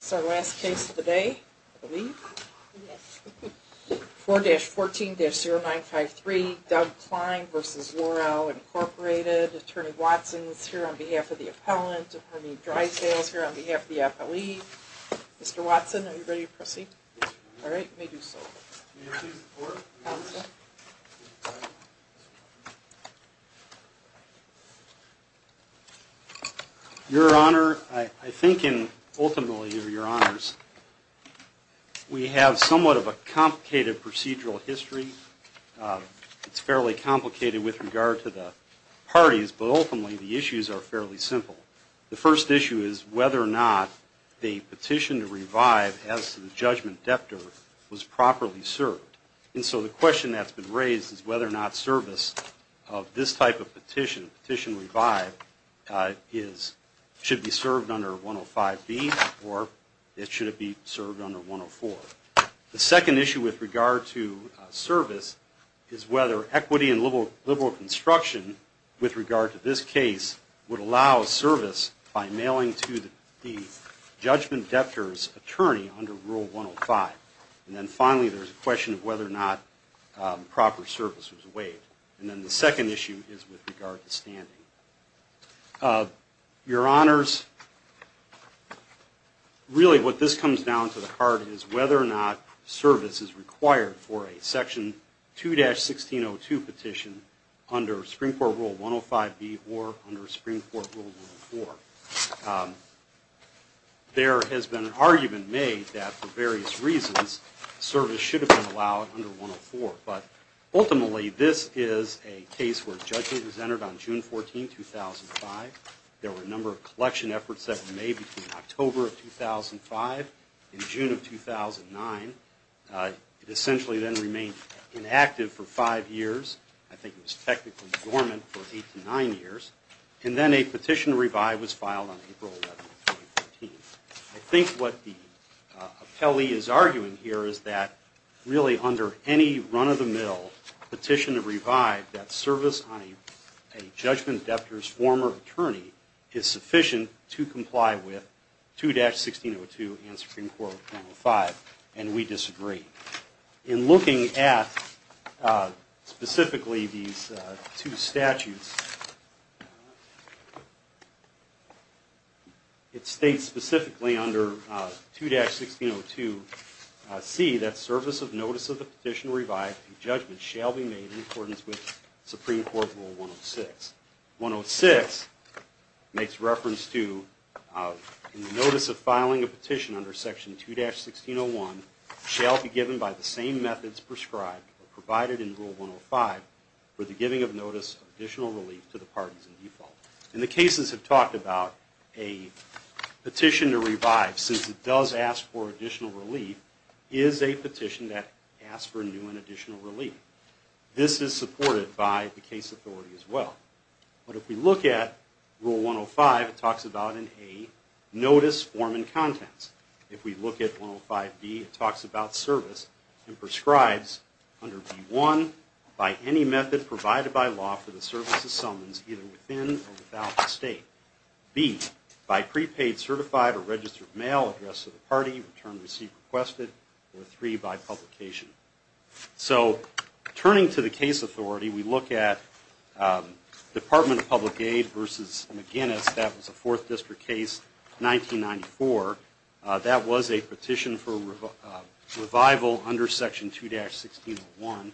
This is our last case of the day, I believe. 4-14-0953, Doug Kline v. Lor-Al, Inc. Attorney Watson is here on behalf of the appellant. Attorney Drysdale is here on behalf of the appellee. Mr. Watson, are you ready to proceed? All right, let me do so. Your Honor, I think, and ultimately, Your Honors, we have somewhat of a complicated procedural history. It's fairly complicated with regard to the parties, but ultimately the issues are fairly simple. The first issue is whether or not the petition to revive as to the judgment debtor was properly served. And so the question that's been raised is whether or not service of this type of petition, petition to revive, should be served under 105B or should it be served under 104. The second issue with regard to service is whether equity and liberal construction with regard to this case would allow service by mailing to the judgment debtor's attorney under Rule 105. And then finally, there's a question of whether or not proper service was waived. And then the second issue is with regard to standing. Your Honors, really what this comes down to the heart is whether or not service is required for a Section 2-1602 petition under Supreme Court Rule 105B or under Supreme Court Rule 104. There has been an argument made that for various reasons, service should have been allowed under 104. But ultimately, this is a case where judgment was entered on June 14, 2005. There were a number of collection efforts that were made between October of 2005 and June of 2009. It essentially then remained inactive for five years. I think it was technically dormant for eight to nine years. And then a petition to revive was filed on April 11, 2014. I think what the appellee is arguing here is that really under any run-of-the-mill petition to revive, that service on a judgment debtor's former attorney is sufficient to comply with specifically these two statutes. It states specifically under 2-1602C that service of notice of the petition to revive to judgment shall be made in accordance with Supreme Court Rule 106. 106 makes reference to Notice of filing a petition under Section 2-1601 shall be given by the same methods prescribed or provided in Rule 105 for the giving of notice of additional relief to the parties in default. And the cases have talked about a petition to revive, since it does ask for additional relief, is a petition that asks for new and additional relief. This is supported by the case authority as well. But if we look at Rule 105, it talks about service and prescribes under B-1, by any method provided by law for the service of summons either within or without the state. B, by prepaid, certified, or registered mail addressed to the party, return received requested, or 3, by publication. So turning to the case authority, we look at Department of Public Aid versus McGinnis, that was a Fourth District case, and we look at Department of Public Aid 1994. That was a petition for revival under Section 2-1601.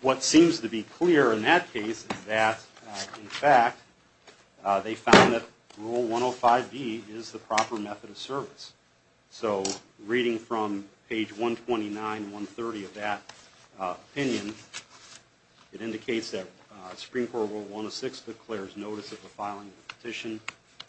What seems to be clear in that case is that, in fact, they found that Rule 105B is the proper method of service. So reading from page 129, 130 of that opinion, it indicates that Supreme Court Rule 106 declares notice of the filing of a petition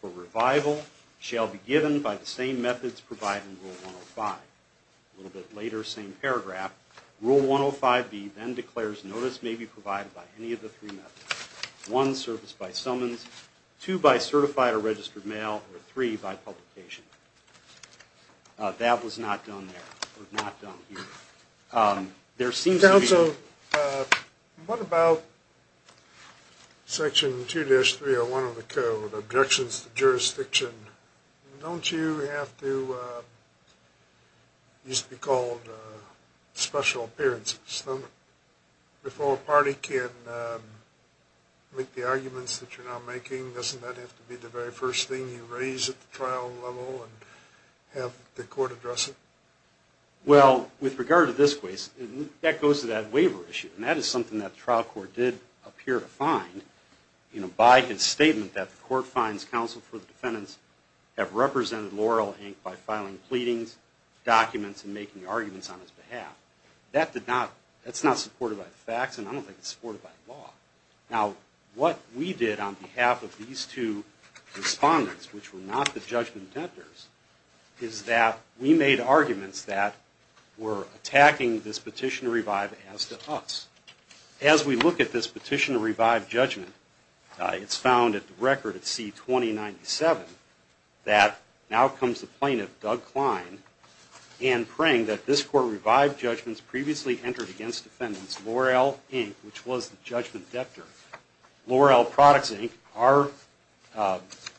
for revival shall be given by the same methods provided in Rule 105. A little bit later, same paragraph, Rule 105B then declares notice may be provided by any of the three methods, 1, service by summons, 2, by certified or What about Section 2-301 of the Code, Objections to Jurisdiction? Don't you have to, it used to be called special appearances. If all party can make the arguments that you're not making, doesn't that have to be the very first thing you raise at the trial level and have the court address it? Well, with regard to this case, that goes to that waiver issue, and that is something that the trial court did appear to find by his statement that the court finds counsel for the defendants have represented Laurel, Inc. by filing pleadings, documents, and making arguments on his behalf. That's not supported by the facts, and I don't think it's supported by the law. Now, what we did on behalf of these two respondents, which were not the defendants, is we made arguments that were attacking this petition to revive as to us. As we look at this petition to revive judgment, it's found at the record at C-2097 that now comes the plaintiff, Doug Klein, and praying that this court revived judgments previously entered against defendants, Laurel, Inc., which was the judgment debtor, Laurel Products, Inc., our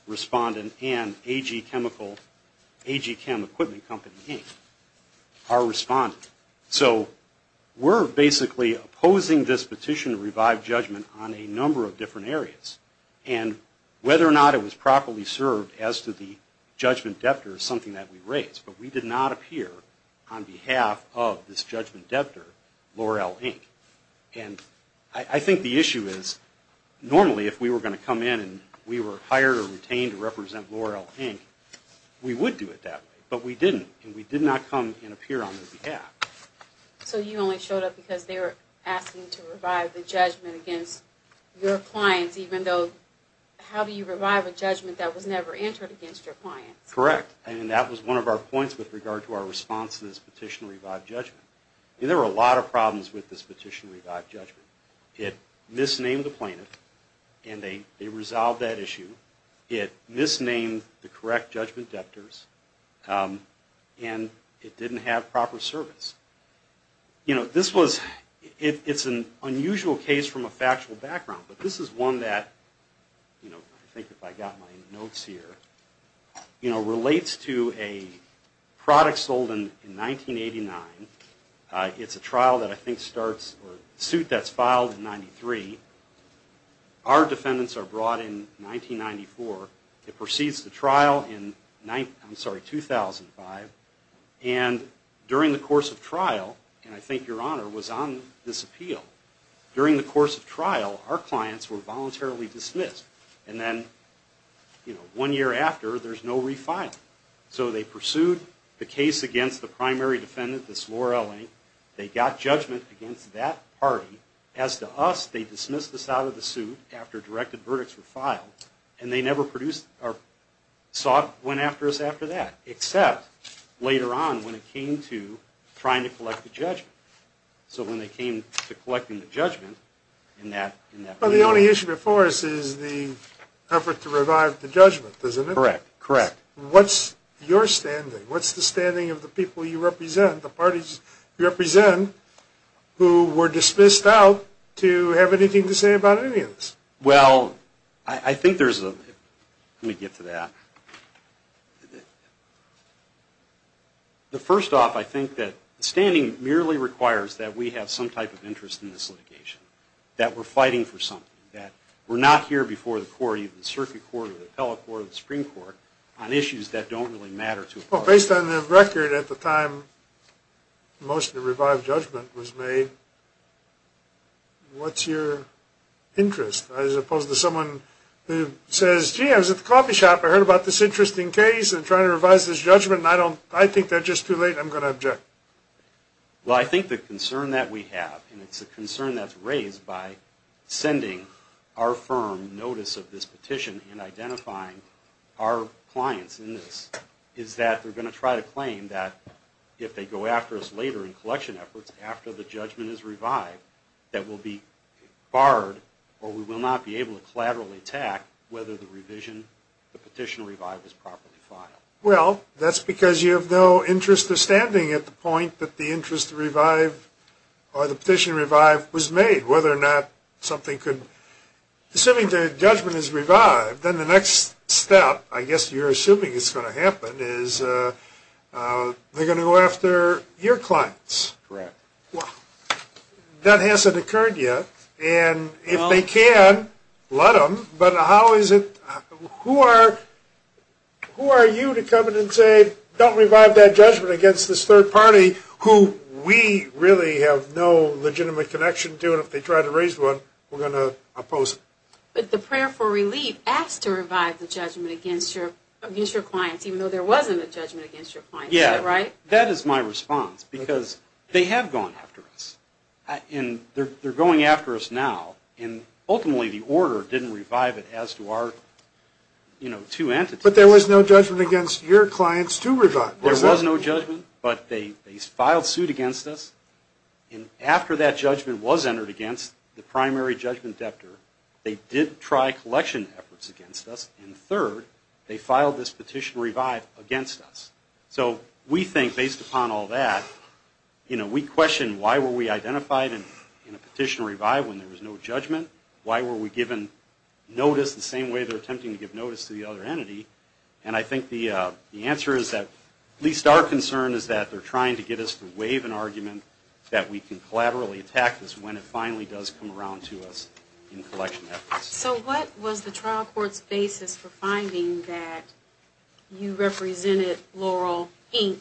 respondent, and A.G. Chemical, A.G. Chem Equipment Company, Inc., our respondent. So we're basically opposing this petition to revive judgment on a number of different areas, and whether or not it was properly served as to the judgment debtor is something that we raised, but we did not appear on behalf of this judgment debtor. Normally, if we were going to come in and we were hired or retained to represent Laurel, Inc., we would do it that way, but we didn't, and we did not come and appear on their behalf. So you only showed up because they were asking to revive the judgment against your clients, even though, how do you revive a judgment that was never entered against your clients? Correct, and that was one of our points with regard to our response to this petition to revive judgment. There were a lot of and they resolved that issue. It misnamed the correct judgment debtors, and it didn't have proper service. This was an unusual case from a factual background, but this is one that, I think if I got my notes here, relates to a product sold in 1989. It's a trial that I think starts, or suit that's filed in 93. Our defendants are brought in 1994. It proceeds to trial in 2005, and during the course of trial, and I think your Honor was on this appeal, during the course of trial, our clients were defendant, this Laurel, Inc. They got judgment against that party. As to us, they dismissed us out of the suit after directed verdicts were filed, and they never produced, or sought, went after us after that, except later on when it came to trying to collect the judgment. So when they came to collecting the judgment in that period... Well, the only issue before us is the effort to revive the judgment, isn't it? Correct, correct. What's your standing? What's the standing of the people you represent, the parties you represent, who were dismissed out to have anything to say about any of this? Well, I think there's a... Let me get to that. The first off, I think that standing merely requires that we have some type of interest in this litigation, that we're fighting for something, that we're not here before the court, even the circuit court, or the appellate court, or the Supreme Court, on issues that don't really matter to a party. Well, based on the record, at the time the motion to revive judgment was made, what's your interest? As opposed to someone who says, gee, I was at the coffee shop, I heard about this interesting case, I'm trying to revise this judgment, and I think they're just too late, I'm going to object. Well, I think the concern that we have, and it's a concern that's raised by sending our firm notice of this petition and identifying our clients in this, is that they're going to try to claim that if they go after us later in collection efforts, after the judgment is revived, that we'll be barred, or we will not be able to collaterally attack whether the revision, the petition to revive is properly filed. Well, that's because you have no interest of standing at the point that the interest to revive, or the petition to revive was made, whether or not something could, assuming the judgment is revived, then the next step, I guess you're assuming is going to happen, is they're going to go after your clients. Correct. That hasn't occurred yet, and if they can, let them, but how is it, who are you to come in and say, don't revive that judgment against this third party, who we really have no legitimate connection to, and if they try to raise one, we're going to oppose it. But the prayer for relief asks to revive the judgment against your clients, even though there wasn't a judgment against your clients, is that right? Yeah, that is my response, because they have gone after us, and they're going after us now, and ultimately the order didn't revive it as to our, you know, two entities. But there was no judgment against your clients to revive. There was no judgment, but they filed suit against us, and after that judgment was entered against the primary judgment debtor, they did try collection efforts against us, and third, they filed this petition to revive against us. So we think, based upon all that, you know, we question why were we identified in a petition to revive when there was no judgment, why were we given notice the same way they're attempting to give notice to the other entity, and I think the answer is that at least our concern is that they're trying to get us to waive an argument that we can collaterally attack this when it finally does come around to us in collection efforts. So what was the trial court's basis for finding that you represented Laurel, Inc.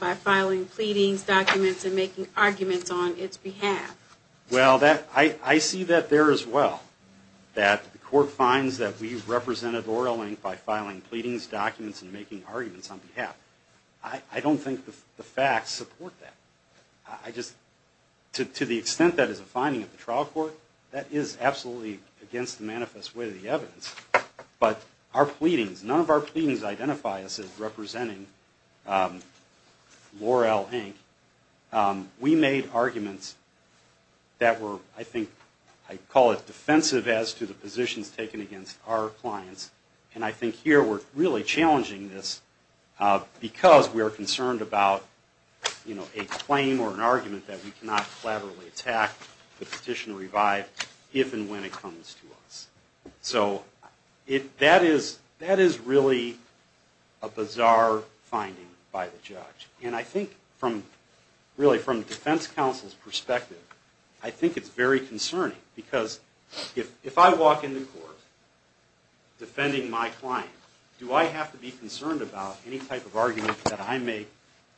by filing pleadings, documents, and making arguments on its behalf? Well, that, I see that there as well, that the court finds that we represented Laurel, Inc. by filing pleadings, documents, and making arguments on behalf. I don't think the facts support that. I just, to the extent that is a finding of the trial court, that is absolutely against the manifest way of the evidence, but our pleadings, none of our pleadings identify us as representing Laurel, Inc. We made arguments that were, I think, I call it defensive as to the positions taken against our clients, and I think here we're really challenging this because we are concerned about, you know, a claim or an argument that we cannot collaterally attack the petition to revive if and when it comes to us. So that is really a bizarre finding by the judge. And I think, really, from the defense counsel's perspective, I think it's very concerning because if I walk into court defending my client, do I have to be concerned about any type of argument that I make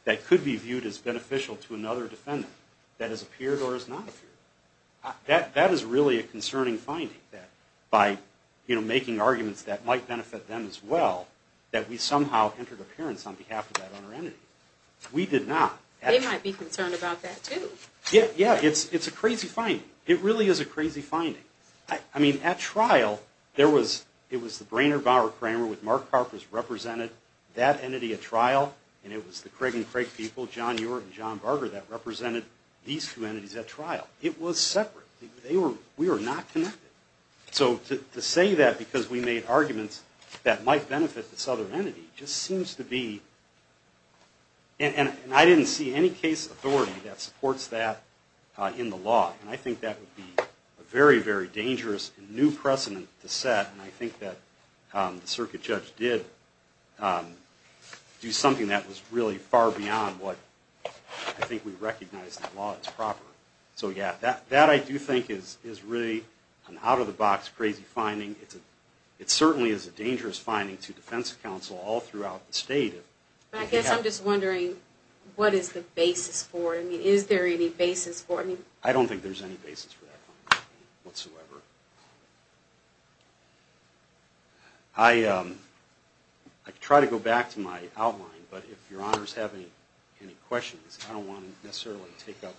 that could be viewed as beneficial to another defendant that has appeared or has not appeared? That is really a concerning finding, that by, you know, making arguments that might benefit them as well, that we somehow entered appearance on behalf of that other entity. We did not. They might be concerned about that, too. Yeah, it's a crazy finding. It really is a crazy finding. I mean, at trial, there was, it was the Brainerd Bauer Kramer with Mark Carpers represented that entity at trial, and it was the Craig and Craig people, John Ewert and John Barger, that represented these two entities at trial. It was separate. They were, we were not connected. So to say that because we made arguments that might benefit this other entity just seems to be, and I didn't see any case authority that supports that in the law, and I think that would be a very, very dangerous new precedent to set, and I think that the circuit judge did do something that was really far beyond what I think we recognize in the law as proper. So, yeah, that I do think is really an out-of-the-box crazy finding. It certainly is a dangerous finding to defense counsel all throughout the state. I guess I'm just wondering, what is the basis for it? I mean, is there any basis for it? I don't think there's any basis for that finding whatsoever. I could try to go back to my outline, but if your honors have any questions, I don't want to necessarily take up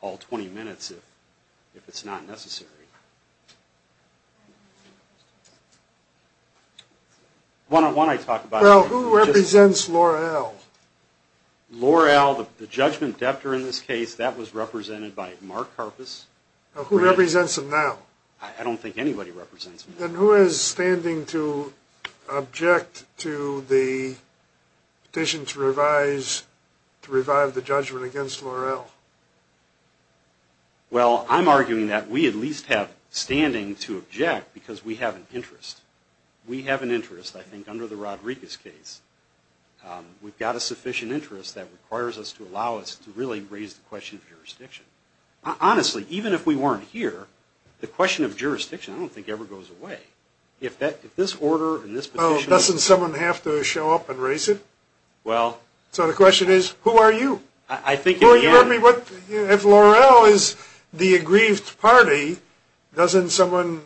all 20 minutes if it's not necessary. One-on-one I talk about. Well, who represents L'Oreal? L'Oreal, the judgment debtor in this case, that was represented by Mark Karpus. Who represents him now? I don't think anybody represents him. Then who is standing to object to the petition to revise, to revive the judgment against L'Oreal? Well, I'm arguing that we at least have standing to object because we have an interest. We have an interest, I think, under the Rodriguez case. We've got a sufficient interest that requires us to allow us to really raise the question of jurisdiction. Honestly, even if we weren't here, the question of jurisdiction I don't think ever goes away. If this order and this petition… Doesn't someone have to show up and raise it? Well… So the question is, who are you? I think in the end… If L'Oreal is the aggrieved party, doesn't someone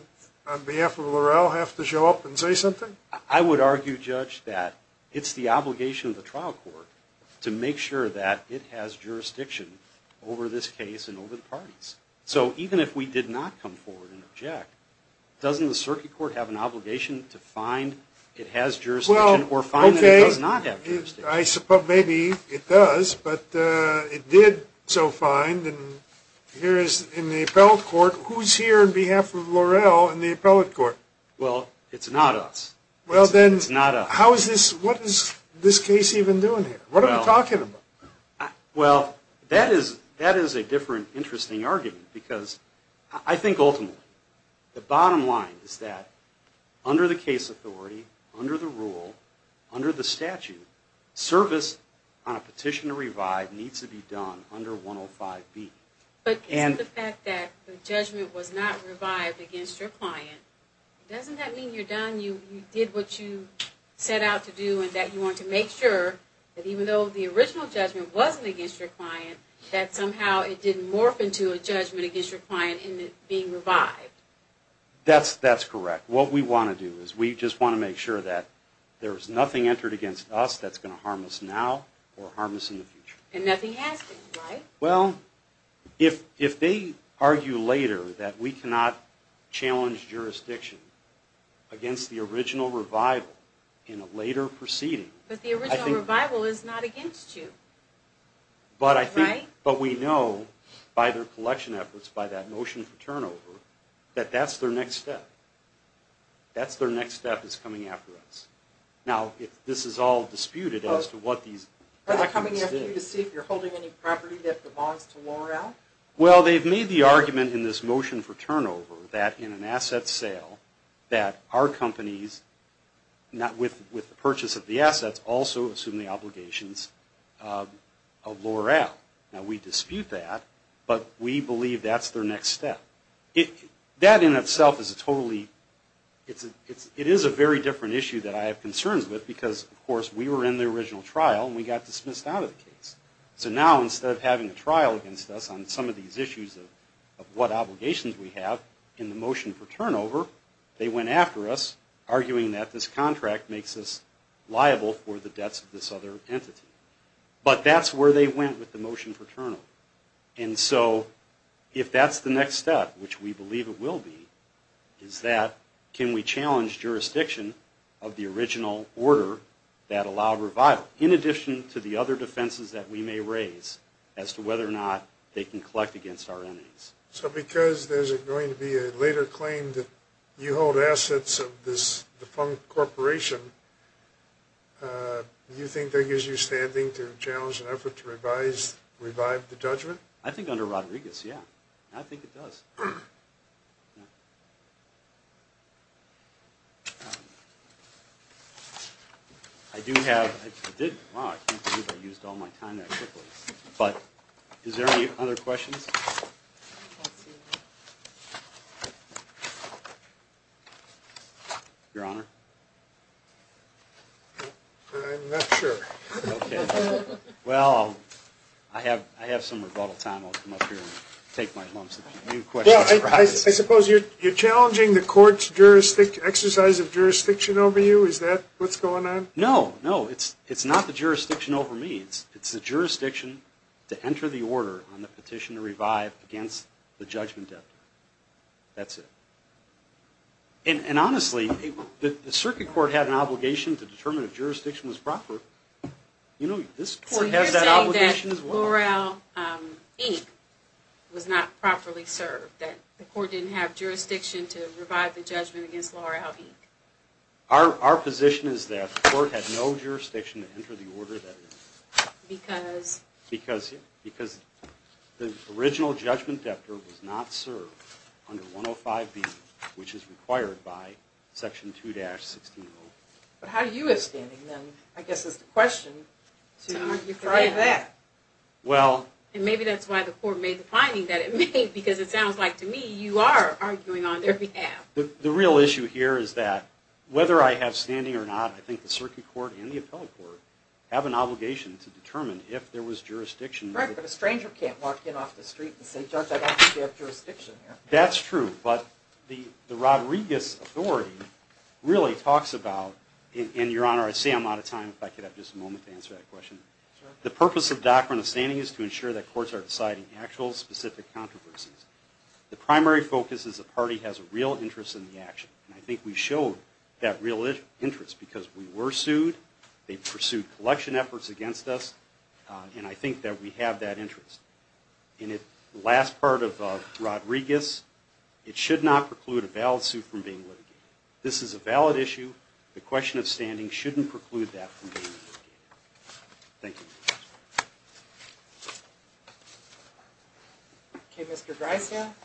on behalf of L'Oreal have to show up and say something? I would argue, Judge, that it's the obligation of the trial court to make sure that it has jurisdiction over this case and over the parties. So even if we did not come forward and object, doesn't the circuit court have an obligation to find it has jurisdiction or find that it does not have jurisdiction? I suppose maybe it does, but it did so find. Here is in the appellate court, who's here on behalf of L'Oreal in the appellate court? Well, it's not us. It's not us. Well then, what is this case even doing here? What are we talking about? Well, that is a different, interesting argument because I think ultimately the bottom line is that under the case authority, under the rule, under the statute, service on a petition to revive needs to be done under 105B. But given the fact that the judgment was not revived against your client, doesn't that mean you're done? You did what you set out to do and that you want to make sure that even though the original judgment wasn't against your client, that somehow it didn't morph into a judgment against your client in it being revived? That's correct. What we want to do is we just want to make sure that there's nothing entered against us that's going to harm us now or harm us in the future. And nothing has been, right? Well, if they argue later that we cannot challenge jurisdiction against the original revival in a later proceeding... But the original revival is not against you, right? But we know by their collection efforts, by that motion for turnover, that that's their next step. That's their next step is coming after us. Now, this is all disputed as to what these... Are they coming after you to see if you're holding any property that belongs to LORAL? Well, they've made the argument in this motion for turnover that in an asset sale that our companies, with the purchase of the assets, also assume the obligations of LORAL. Now, we dispute that, but we believe that's their next step. That in itself is a totally... So now, instead of having a trial against us on some of these issues of what obligations we have in the motion for turnover, they went after us, arguing that this contract makes us liable for the debts of this other entity. But that's where they went with the motion for turnover. And so if that's the next step, which we believe it will be, is that can we challenge jurisdiction of the original order that allowed revival? In addition to the other defenses that we may raise as to whether or not they can collect against our entities. So because there's going to be a later claim that you hold assets of this defunct corporation, do you think that gives you standing to challenge an effort to revise, revive the judgment? I think under Rodriguez, yeah. I think it does. I do have... Wow, I can't believe I used all my time that quickly. But is there any other questions? Your Honor? I'm not sure. Well, I have some rebuttal time. I'll come up here and take my lumps. I suppose you're challenging the court's exercise of jurisdiction over you? Is that what's going on? No, no. It's not the jurisdiction over me. It's the jurisdiction to enter the order on the petition to revive against the judgment debt. That's it. And honestly, the circuit court had an obligation to determine if jurisdiction was proper. You know, this court has that obligation as well. So you're saying that L'Oreal, Inc. was not properly served? That the court didn't have jurisdiction to revive the judgment against L'Oreal, Inc.? Our position is that the court had no jurisdiction to enter the order that it did. Because? Because the original judgment debt was not served under 105B, which is required by Section 2-160. But how do you have standing then, I guess is the question, to argue for that? Well... And maybe that's why the court made the finding that it made, because it sounds like to me you are arguing on their behalf. The real issue here is that whether I have standing or not, I think the circuit court and the appellate court have an obligation to determine if there was jurisdiction. Correct, but a stranger can't walk in off the street and say, Judge, I don't think you have jurisdiction here. That's true. But the Rodriguez authority really talks about, and Your Honor, I see I'm out of time. If I could have just a moment to answer that question. Sure. The purpose of doctrine of standing is to ensure that courts are deciding actual specific controversies. The primary focus is the party has a real interest in the action. And I think we show that real interest because we were sued, they pursued collection efforts against us, and I think that we have that interest. And the last part of Rodriguez, it should not preclude a valid suit from being litigated. This is a valid issue. The question of standing shouldn't preclude that from being litigated. Thank you, Your Honor. Okay, Mr. Greisand? Thank you, Your Honor.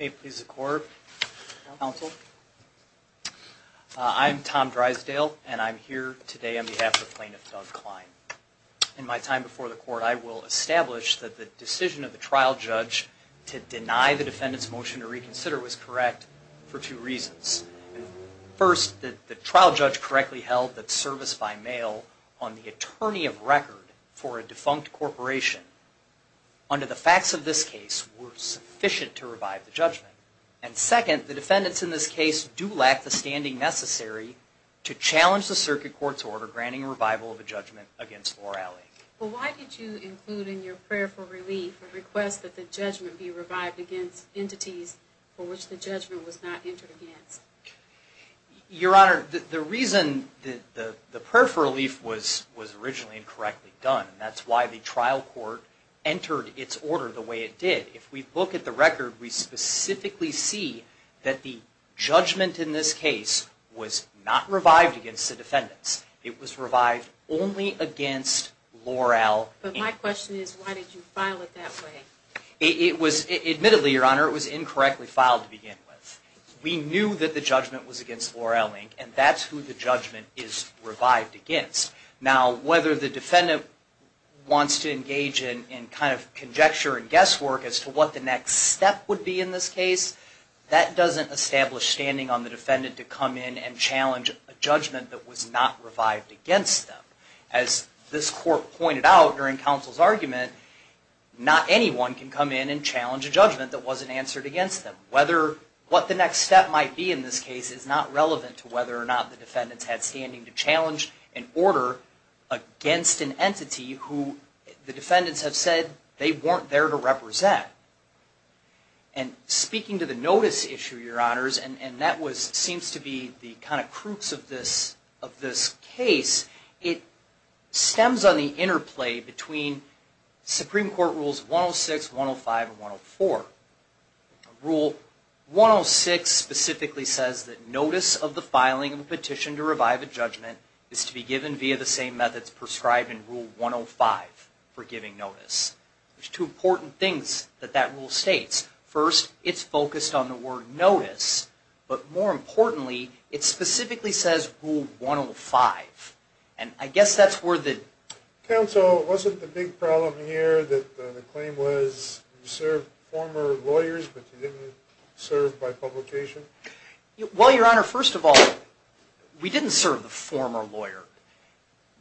May it please the court. Counsel. I'm Tom Greisand, and I'm here today on behalf of the plaintiff, Doug Klein. In my time before the court, I will establish that the decision of the trial judge to deny the defendant's motion to reconsider was correct for two reasons. First, the trial judge correctly held that service by mail on the attorney of record for a defunct corporation under the facts of this case were sufficient to revive the judgment. And second, the defendants in this case do lack the standing necessary to challenge the circuit court's order granting a revival of a judgment against Loralee. Well, why did you include in your prayer for relief a request that the judgment be revived against entities for which the judgment was not entered against? Your Honor, the reason that the prayer for relief was originally incorrectly done, that's why the trial court entered its order the way it did. If we look at the record, we specifically see that the judgment in this case was not revived against the defendants. It was revived only against Loralee. But my question is, why did you file it that way? Admittedly, Your Honor, it was incorrectly filed to begin with. We knew that the judgment was against Loralee, and that's who the judgment is revived against. Now, whether the defendant wants to engage in kind of conjecture and guesswork as to what the next step would be in this case, that doesn't establish standing on the defendant to come in and challenge a judgment that was not revived against them. As this court pointed out during counsel's argument, not anyone can come in and challenge a judgment that wasn't answered against them. What the next step might be in this case is not relevant to whether or not the defendants had standing to challenge an order against an entity who the defendants have said they weren't there to represent. And speaking to the notice issue, Your Honors, and that seems to be the kind of crux of this case, it stems on the interplay between Supreme Court Rules 106, 105, and 104. Rule 106 specifically says that notice of the filing of a petition to revive a judgment is to be given via the same methods prescribed in Rule 105 for giving notice. There's two important things that that rule states. First, it's focused on the word notice, but more importantly, it specifically says Rule 105. And I guess that's where the... Counsel, wasn't the big problem here that the claim was you served former lawyers, but you didn't serve by publication? Well, Your Honor, first of all, we didn't serve the former lawyer.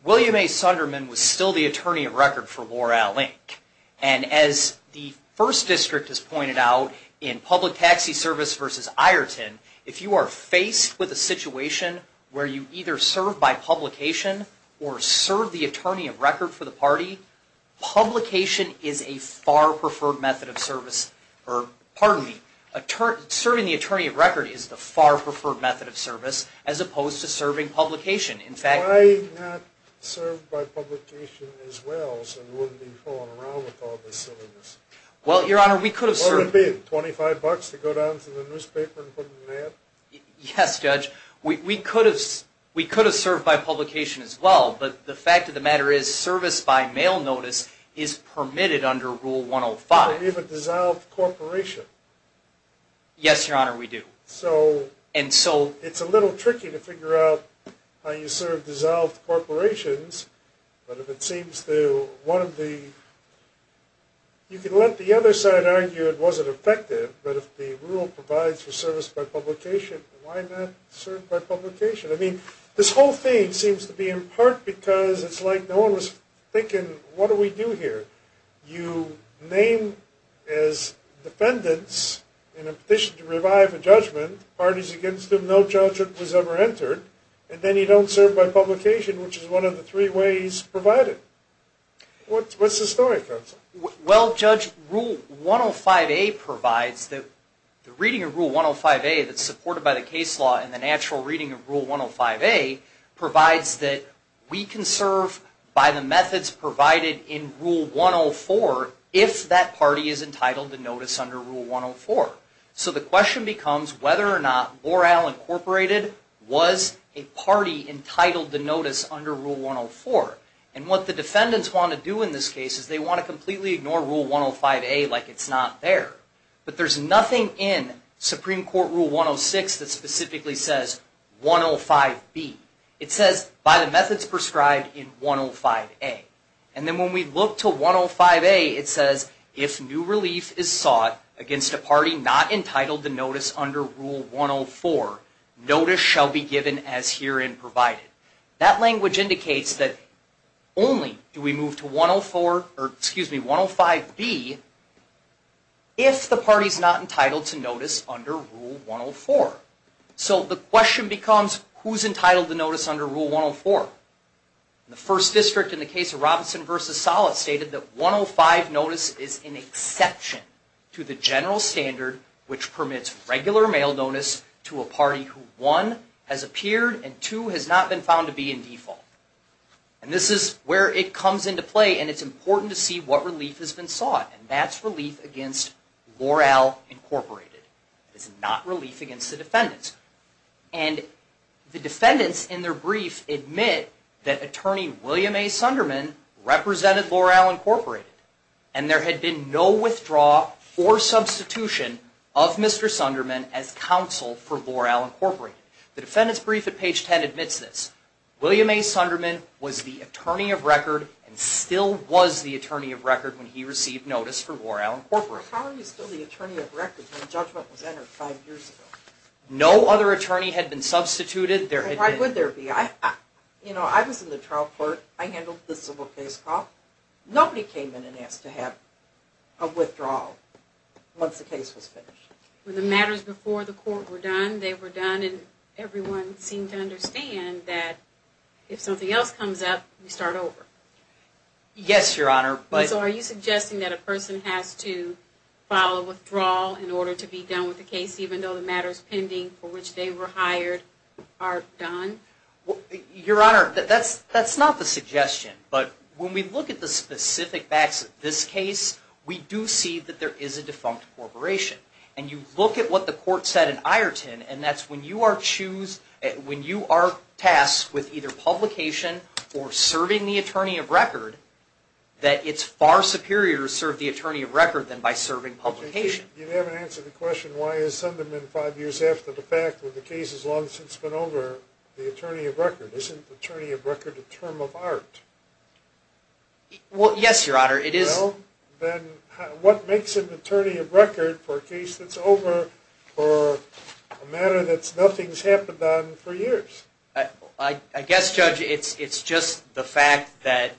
William A. Sunderman was still the attorney of record for Loral, Inc. And as the First District has pointed out, in public taxi service versus Ireton, if you are faced with a situation where you either serve by publication or serve the attorney of record for the party, publication is a far preferred method of service, or pardon me, serving the attorney of record is the far preferred method of service as opposed to serving publication. Why not serve by publication as well so you wouldn't be fooling around with all this silliness? Well, Your Honor, we could have served... Would it have been $25 to go down to the newspaper and put in an ad? Yes, Judge. We could have served by publication as well, but the fact of the matter is service by mail notice is permitted under Rule 105. You have a dissolved corporation. Yes, Your Honor, we do. So... And so... It's a little tricky to figure out how you serve dissolved corporations, but if it seems to one of the... You can let the other side argue it wasn't effective, but if the rule provides for service by publication, why not serve by publication? I mean, this whole thing seems to be in part because it's like no one was thinking, what do we do here? You name as defendants in a petition to revive a judgment, parties against them, no judgment was ever entered, and then you don't serve by publication, which is one of the three ways provided. What's the story, counsel? Well, Judge, Rule 105A provides that the reading of Rule 105A that's supported by the case law and the natural reading of Rule 105A provides that we can serve by the methods provided in Rule 104 if that party is entitled to notice under Rule 104. So the question becomes whether or not Boral Incorporated was a party entitled to notice under Rule 104. And what the defendants want to do in this case is they want to completely ignore Rule 105A like it's not there. But there's nothing in Supreme Court Rule 106 that specifically says 105B. It says, by the methods prescribed in 105A. And then when we look to 105A, it says, if new relief is sought against a party not entitled to notice under Rule 104, notice shall be given as herein provided. That language indicates that only do we move to 105B if the party's not entitled to notice under Rule 104. So the question becomes, who's entitled to notice under Rule 104? The first district in the case of Robinson v. Sollett stated that 105 notice is an exception to the general standard which permits regular mail notice to a party who, one, has appeared, and two, has not been found to be in default. And this is where it comes into play, and it's important to see what relief has been sought. And that's relief against Boral Incorporated. It's not relief against the defendants. And the defendants, in their brief, admit that attorney William A. Sunderman represented Boral Incorporated, and there had been no withdrawal or substitution of Mr. Sunderman as counsel for Boral Incorporated. The defendant's brief at page 10 admits this. William A. Sunderman was the attorney of record and still was the attorney of record when he received notice for Boral Incorporated. How are you still the attorney of record when judgment was entered five years ago? No other attorney had been substituted. Why would there be? You know, I was in the trial court. I handled the civil case call. Nobody came in and asked to have a withdrawal once the case was finished. When the matters before the court were done, they were done and everyone seemed to understand that if something else comes up, we start over. So are you suggesting that a person has to file a withdrawal in order to be done with the case even though the matters pending for which they were hired are done? Your Honor, that's not the suggestion. But when we look at the specific facts of this case, we do see that there is a defunct corporation. And you look at what the court said in Ireton, and that's when you are tasked with either publication or serving the attorney of record, that it's far superior to serve the attorney of record than by serving publication. You haven't answered the question, why has something been five years after the fact when the case has long since been over, the attorney of record? Isn't attorney of record a term of art? Well, yes, Your Honor, it is. Well, then what makes an attorney of record for a case that's over for a matter that nothing's happened on for years? I guess, Judge, it's just the fact that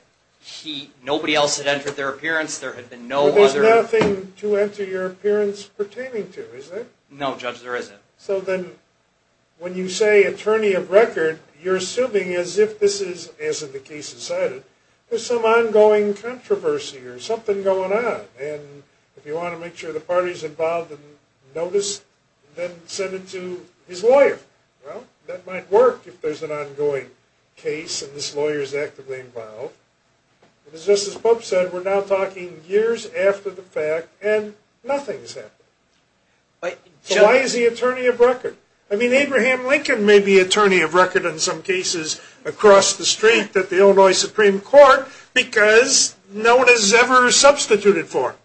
nobody else had entered their appearance. But there's nothing to enter your appearance pertaining to, is there? No, Judge, there isn't. So then when you say attorney of record, you're assuming as if this is, as the case is cited, there's some ongoing controversy or something going on. And if you want to make sure the party's involved and noticed, then send it to his lawyer. Well, that might work if there's an ongoing case and this lawyer's actively involved. As Justice Pope said, we're now talking years after the fact and nothing's happened. So why is he attorney of record? I mean, Abraham Lincoln may be attorney of record in some cases across the street at the Illinois Supreme Court because no one has ever substituted for him.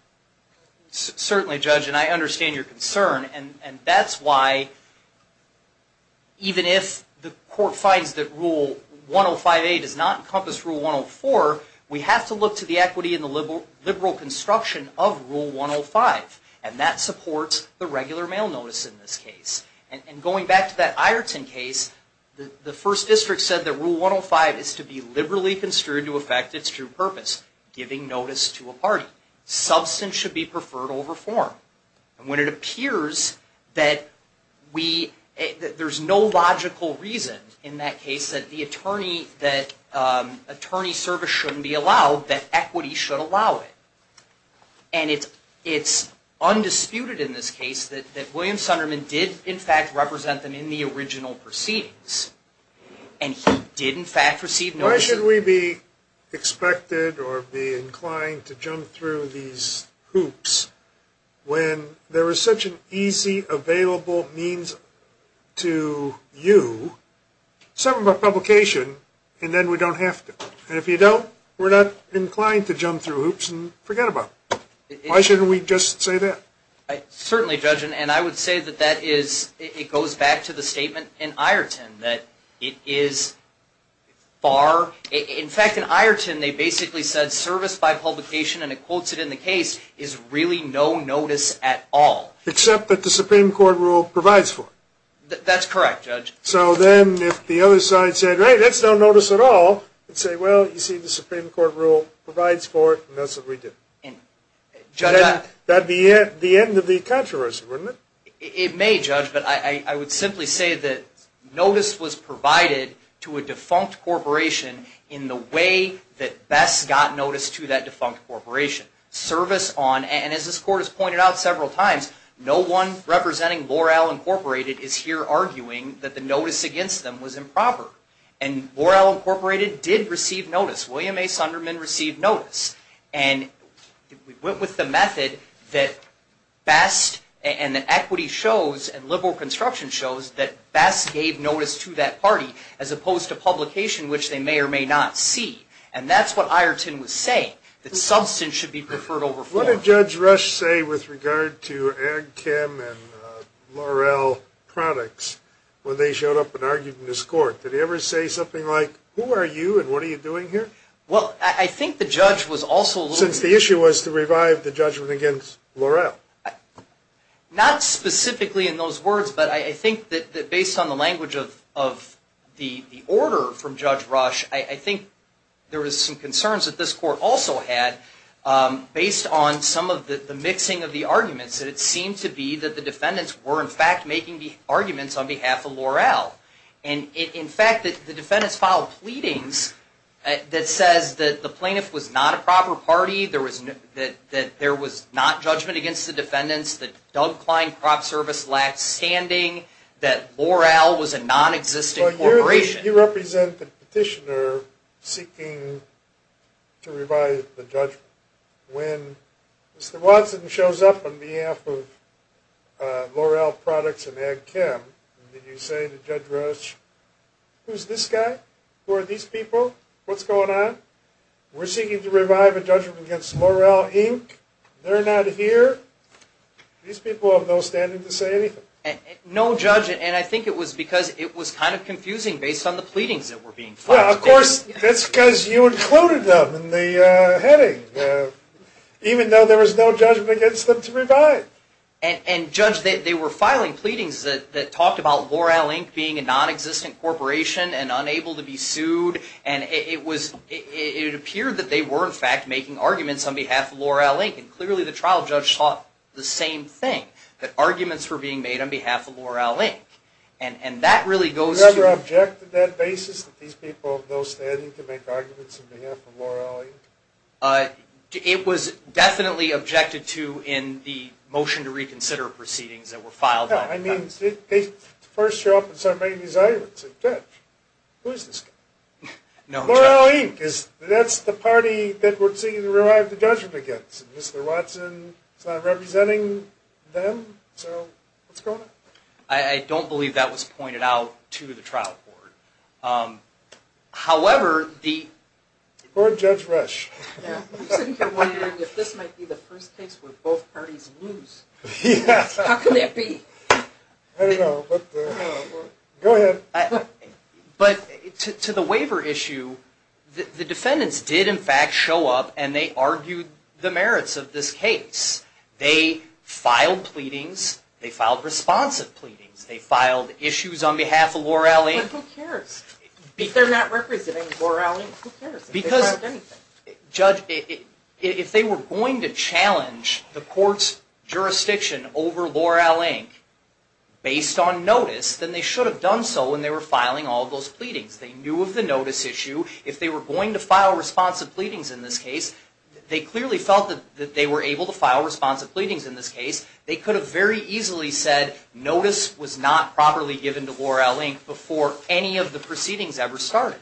Certainly, Judge, and I understand your concern. And that's why, even if the court finds that Rule 105A does not encompass Rule 104, we have to look to the equity and the liberal construction of Rule 105. And that supports the regular mail notice in this case. And going back to that Ireton case, the first district said that Rule 105 is to be liberally construed to affect its true purpose, giving notice to a party. Substance should be preferred over form. And when it appears that there's no logical reason in that case that the attorney service shouldn't be allowed, that equity should allow it. And it's undisputed in this case that William Sunderman did, in fact, represent them in the original proceedings. And he did, in fact, receive notice. Why should we be expected or be inclined to jump through these hoops when there is such an easy, available means to you? Some of our publication, and then we don't have to. And if you don't, we're not inclined to jump through hoops and forget about it. Why shouldn't we just say that? Certainly, Judge. And I would say that it goes back to the statement in Ireton that it is far. In fact, in Ireton they basically said service by publication, and it quotes it in the case, is really no notice at all. That's correct, Judge. So then if the other side said, right, that's no notice at all, you'd say, well, you see, the Supreme Court rule provides for it, and that's what we did. And, Judge, that would be the end of the controversy, wouldn't it? It may, Judge, but I would simply say that notice was provided to a defunct corporation in the way that best got notice to that defunct corporation. Service on, and as this Court has pointed out several times, no one representing Loral Incorporated is here arguing that the notice against them was improper. And Loral Incorporated did receive notice. William A. Sunderman received notice. And we went with the method that best and that equity shows and liberal construction shows that best gave notice to that party, as opposed to publication, which they may or may not see. And that's what Ireton was saying, that substance should be preferred over form. What did Judge Rush say with regard to Ag Kim and Loral Products when they showed up and argued in this court? Did he ever say something like, who are you and what are you doing here? Well, I think the judge was also a little bit. Since the issue was to revive the judgment against Loral. Not specifically in those words, but I think that based on the language of the order from Judge Rush, I think there was some concerns that this court also had based on some of the mixing of the arguments. And it seemed to be that the defendants were, in fact, making the arguments on behalf of Loral. And in fact, the defendants filed pleadings that says that the plaintiff was not a proper party, that there was not judgment against the defendants, that Doug Klein Crop Service lacked standing, that Loral was a nonexistent corporation. You represent the petitioner seeking to revive the judgment. When Mr. Watson shows up on behalf of Loral Products and Ag Kim, did you say to Judge Rush, who's this guy? Who are these people? What's going on? We're seeking to revive a judgment against Loral Inc. They're not here. These people have no standing to say anything. No, Judge. And I think it was because it was kind of confusing based on the pleadings that were being filed. Well, of course. That's because you included them in the heading, even though there was no judgment against them to revive. And, Judge, they were filing pleadings that talked about Loral Inc. being a nonexistent corporation and unable to be sued. And it appeared that they were, in fact, making arguments on behalf of Loral Inc. And clearly the trial judge thought the same thing, that arguments were being made on behalf of Loral Inc. And that really goes to – Did you ever object to that basis, that these people have no standing to make arguments on behalf of Loral Inc.? It was definitely objected to in the motion to reconsider proceedings that were filed by Loral Inc. I mean, they first show up and start making these arguments. Judge, who's this guy? No, Judge. Loral Inc. is – that's the party that we're seeking to revive the judgment against. And Mr. Watson is not representing them, so what's going on? I don't believe that was pointed out to the trial court. However, the – Poor Judge Resch. I'm sitting here wondering if this might be the first case where both parties lose. How can that be? I don't know. Go ahead. But to the waiver issue, the defendants did, in fact, show up and they argued the merits of this case. They filed pleadings. They filed responsive pleadings. They filed issues on behalf of Loral Inc. But who cares? If they're not representing Loral Inc., who cares? Because, Judge, if they were going to challenge the court's jurisdiction over Loral Inc. based on notice, then they should have done so when they were filing all those pleadings. They knew of the notice issue. If they were going to file responsive pleadings in this case, they clearly felt that they were able to file responsive pleadings in this case. They could have very easily said, notice was not properly given to Loral Inc. before any of the proceedings ever started.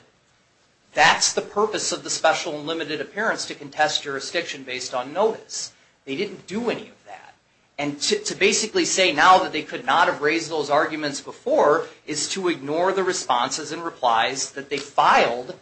That's the purpose of the special and limited appearance, to contest jurisdiction based on notice. They didn't do any of that. And to basically say now that they could not have raised those arguments before is to ignore the responses and replies that they filed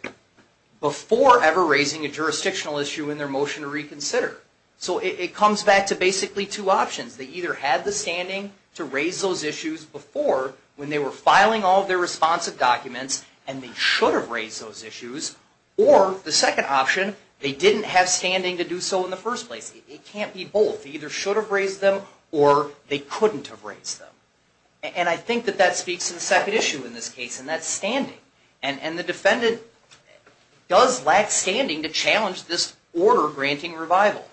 before ever raising a jurisdictional issue in their motion to reconsider. So it comes back to basically two options. They either had the standing to raise those issues before when they were filing all of their responsive documents and they should have raised those issues. Or, the second option, they didn't have standing to do so in the first place. It can't be both. They either should have raised them or they couldn't have raised them. And I think that that speaks to the second issue in this case, and that's standing. And the defendant does lack standing to challenge this order granting revival.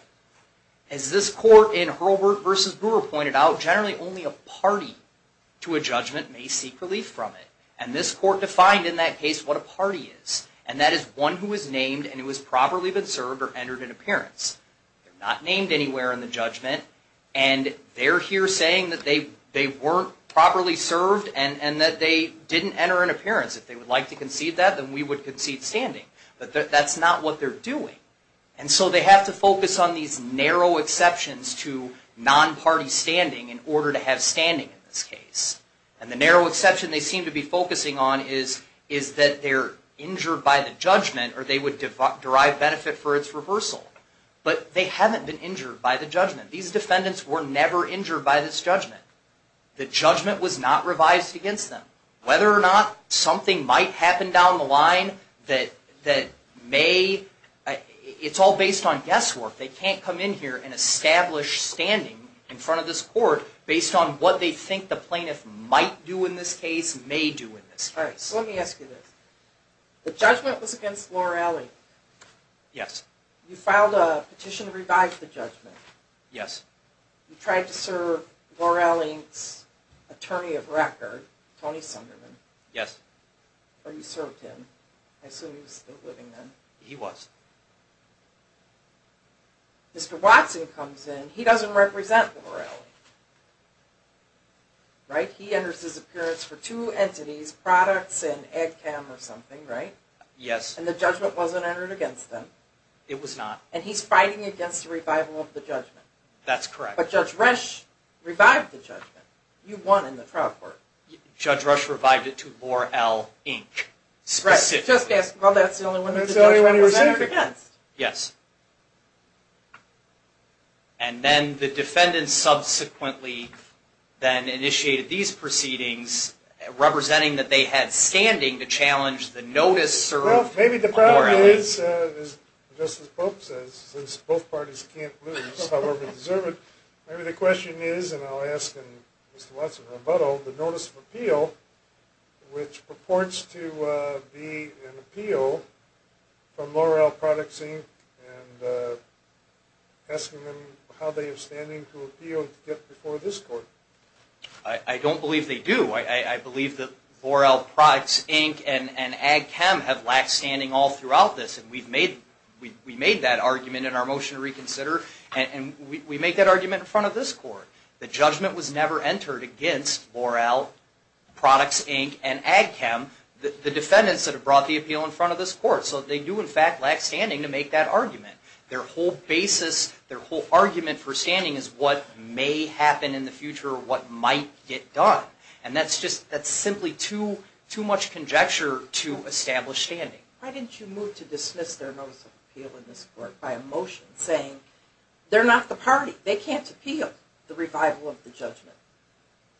As this court in Hurlburt v. Brewer pointed out, generally only a party to a judgment may seek relief from it. And this court defined in that case what a party is. And that is one who is named and who has properly been served or entered an appearance. They're not named anywhere in the judgment. And they're here saying that they weren't properly served and that they didn't enter an appearance. If they would like to concede that, then we would concede standing. But that's not what they're doing. And so they have to focus on these narrow exceptions to non-party standing in order to have standing in this case. And the narrow exception they seem to be focusing on is that they're injured by the judgment or they would derive benefit for its reversal. But they haven't been injured by the judgment. These defendants were never injured by this judgment. The judgment was not revised against them. Whether or not something might happen down the line that may, it's all based on guesswork. They can't come in here and establish standing in front of this court based on what they think the plaintiff might do in this case, may do in this case. Let me ask you this. The judgment was against Lorelli. Yes. You filed a petition to revise the judgment. Yes. You tried to serve Lorelli's attorney of record, Tony Sunderman. Yes. Or you served him. I assume he was still living then. He was. Mr. Watson comes in. He doesn't represent Lorelli, right? He enters his appearance for two entities, products and Ag Cam or something, right? Yes. And the judgment wasn't entered against them. It was not. And he's fighting against the revival of the judgment. That's correct. But Judge Resch revived the judgment. You won in the trial court. Judge Resch revived it to Lorelli, Inc. Right. Specifically. Well, that's the only one the judgment was entered against. Yes. And then the defendants subsequently then initiated these proceedings representing that they had standing to challenge the notice served on Lorelli. Well, maybe the problem is, just as Pope says, since both parties can't lose, however they deserve it, maybe the question is, and I'll ask Mr. Watson in rebuttal, the notice of appeal, which purports to be an appeal from Lorelli Products, and asking them how they are standing to appeal to get before this court. I don't believe they do. I believe that Lorelli Products, Inc. and Ag-Chem have lacked standing all throughout this, and we've made that argument in our motion to reconsider, and we make that argument in front of this court. The judgment was never entered against Lorelli Products, Inc. and Ag-Chem, the defendants that have brought the appeal in front of this court. So they do, in fact, lack standing to make that argument. Their whole basis, their whole argument for standing is what may happen in the future, what might get done, and that's simply too much conjecture to establish standing. Why didn't you move to dismiss their notice of appeal in this court by a motion saying, they're not the party, they can't appeal the revival of the judgment?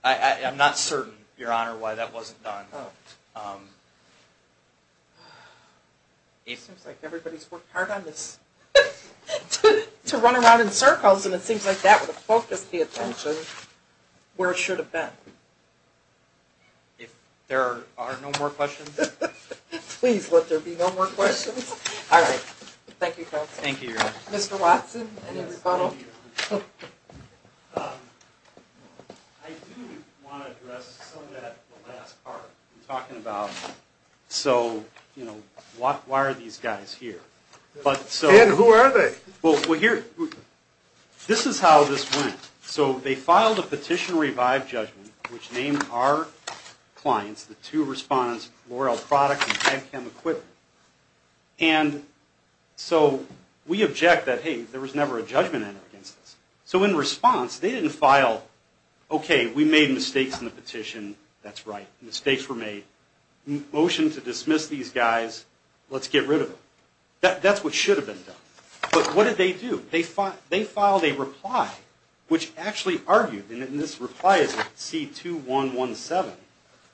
I'm not certain, Your Honor, why that wasn't done. It seems like everybody's worked hard on this to run around in circles, and it seems like that would have focused the attention where it should have been. If there are no more questions? Please let there be no more questions. All right. Thank you, counsel. Thank you, Your Honor. Mr. Watson, any rebuttal? I do want to address some of that in the last part. I'm talking about, so, you know, why are these guys here? And who are they? This is how this went. So they filed a petition to revive judgment, which named our clients, the two respondents, L'Oreal Products and Head Chem Equipment. And so we object that, hey, there was never a judgment entered against us. So in response, they didn't file, okay, we made mistakes in the petition, that's right, mistakes were made, motion to dismiss these guys, let's get rid of them. That's what should have been done. But what did they do? They filed a reply which actually argued, and this reply is C2117,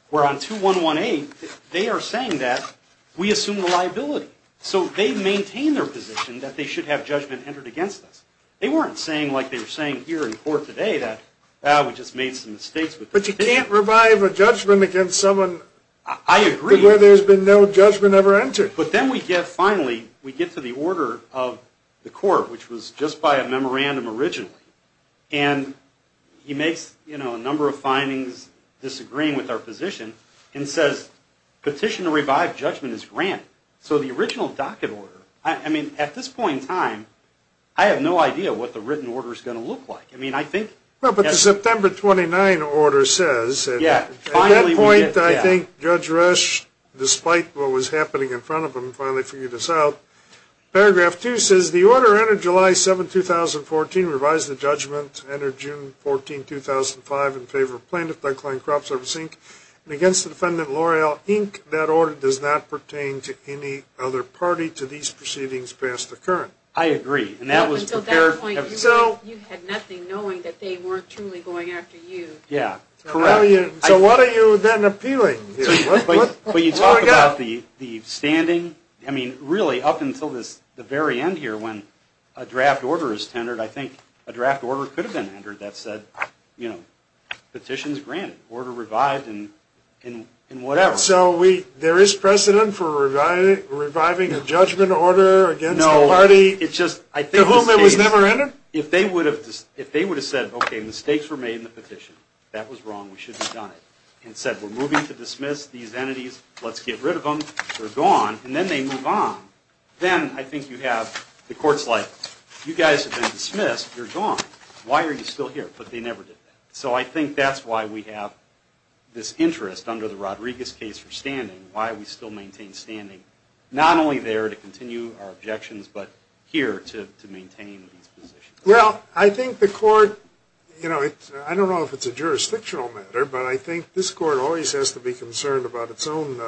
where on 2118 they are saying that we assume the liability. So they maintain their position that they should have judgment entered against us. They weren't saying like they were saying here in court today that, ah, we just made some mistakes. But you can't revive a judgment against someone where there's been no judgment ever entered. I agree. But then we get, finally, we get to the order of the court, which was just by a memorandum originally. And he makes, you know, a number of findings disagreeing with our position and says petition to revive judgment is granted. So the original docket order, I mean, at this point in time, I have no idea what the written order is going to look like. But the September 29 order says, at that point, I think Judge Resch, despite what was happening in front of him, finally figured this out. Paragraph 2 says, the order entered July 7, 2014, revised the judgment entered June 14, 2005, in favor of plaintiff, Doug Klein, Crop Service, Inc., and against the defendant, L'Oreal, Inc. That order does not pertain to any other party to these proceedings past the current. I agree. And that was prepared. So you had nothing knowing that they weren't truly going after you. Yeah. So what are you then appealing? But you talk about the standing. I mean, really, up until the very end here, when a draft order is tendered, I think a draft order could have been entered that said, you know, petitions granted, order revived, and whatever. So there is precedent for reviving a judgment order against the party? The rule that was never entered? If they would have said, okay, mistakes were made in the petition, that was wrong, we should have done it, and said, we're moving to dismiss these entities, let's get rid of them, they're gone, and then they move on, then I think you have the courts like, you guys have been dismissed, you're gone, why are you still here? But they never did that. So I think that's why we have this interest under the Rodriguez case for standing, why we still maintain standing, not only there to continue our objections, but here to maintain these positions. Well, I think the court, you know, I don't know if it's a jurisdictional matter, but I think this court always has to be concerned about its own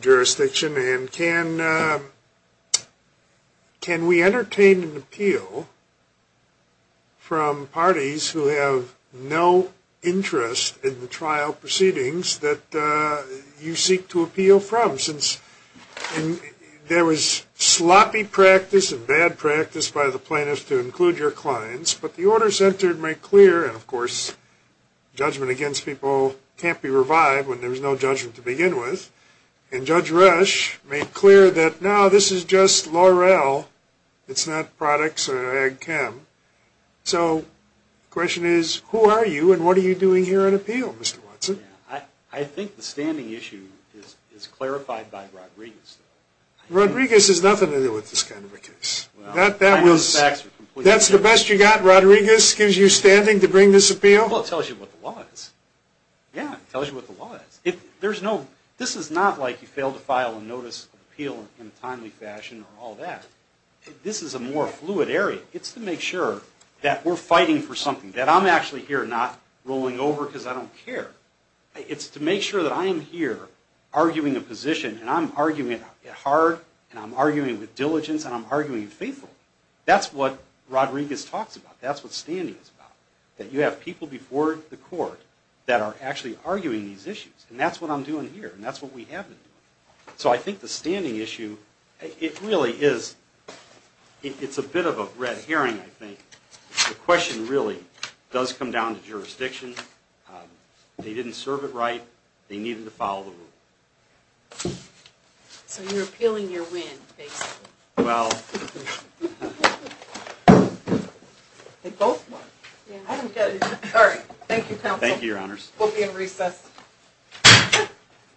jurisdiction, and can we entertain an appeal from parties who have no interest in the trial proceedings that you seek to appeal from? For instance, there was sloppy practice and bad practice by the plaintiffs to include your clients, but the orders entered make clear, and of course judgment against people can't be revived when there's no judgment to begin with, and Judge Resch made clear that now this is just L'Oreal, it's not products or Ag Chem, so the question is, who are you, and what are you doing here on appeal, Mr. Watson? I think the standing issue is clarified by Rodriguez. Rodriguez has nothing to do with this kind of a case. That's the best you got, Rodriguez gives you standing to bring this appeal? Well, it tells you what the law is. Yeah, it tells you what the law is. This is not like you fail to file a notice of appeal in a timely fashion or all that. This is a more fluid area. It's to make sure that we're fighting for something, that I'm actually here not rolling over because I don't care. It's to make sure that I am here arguing a position, and I'm arguing it hard, and I'm arguing with diligence, and I'm arguing faithfully. That's what Rodriguez talks about. That's what standing is about, that you have people before the court that are actually arguing these issues, and that's what I'm doing here, and that's what we have been doing. So I think the standing issue, it really is, it's a bit of a red herring, I think. The question really does come down to jurisdiction. They didn't serve it right. They needed to follow the rule. So you're appealing your win, basically. Well, they both won. I don't get it. All right, thank you, counsel. Thank you, Your Honors. We'll be in recess.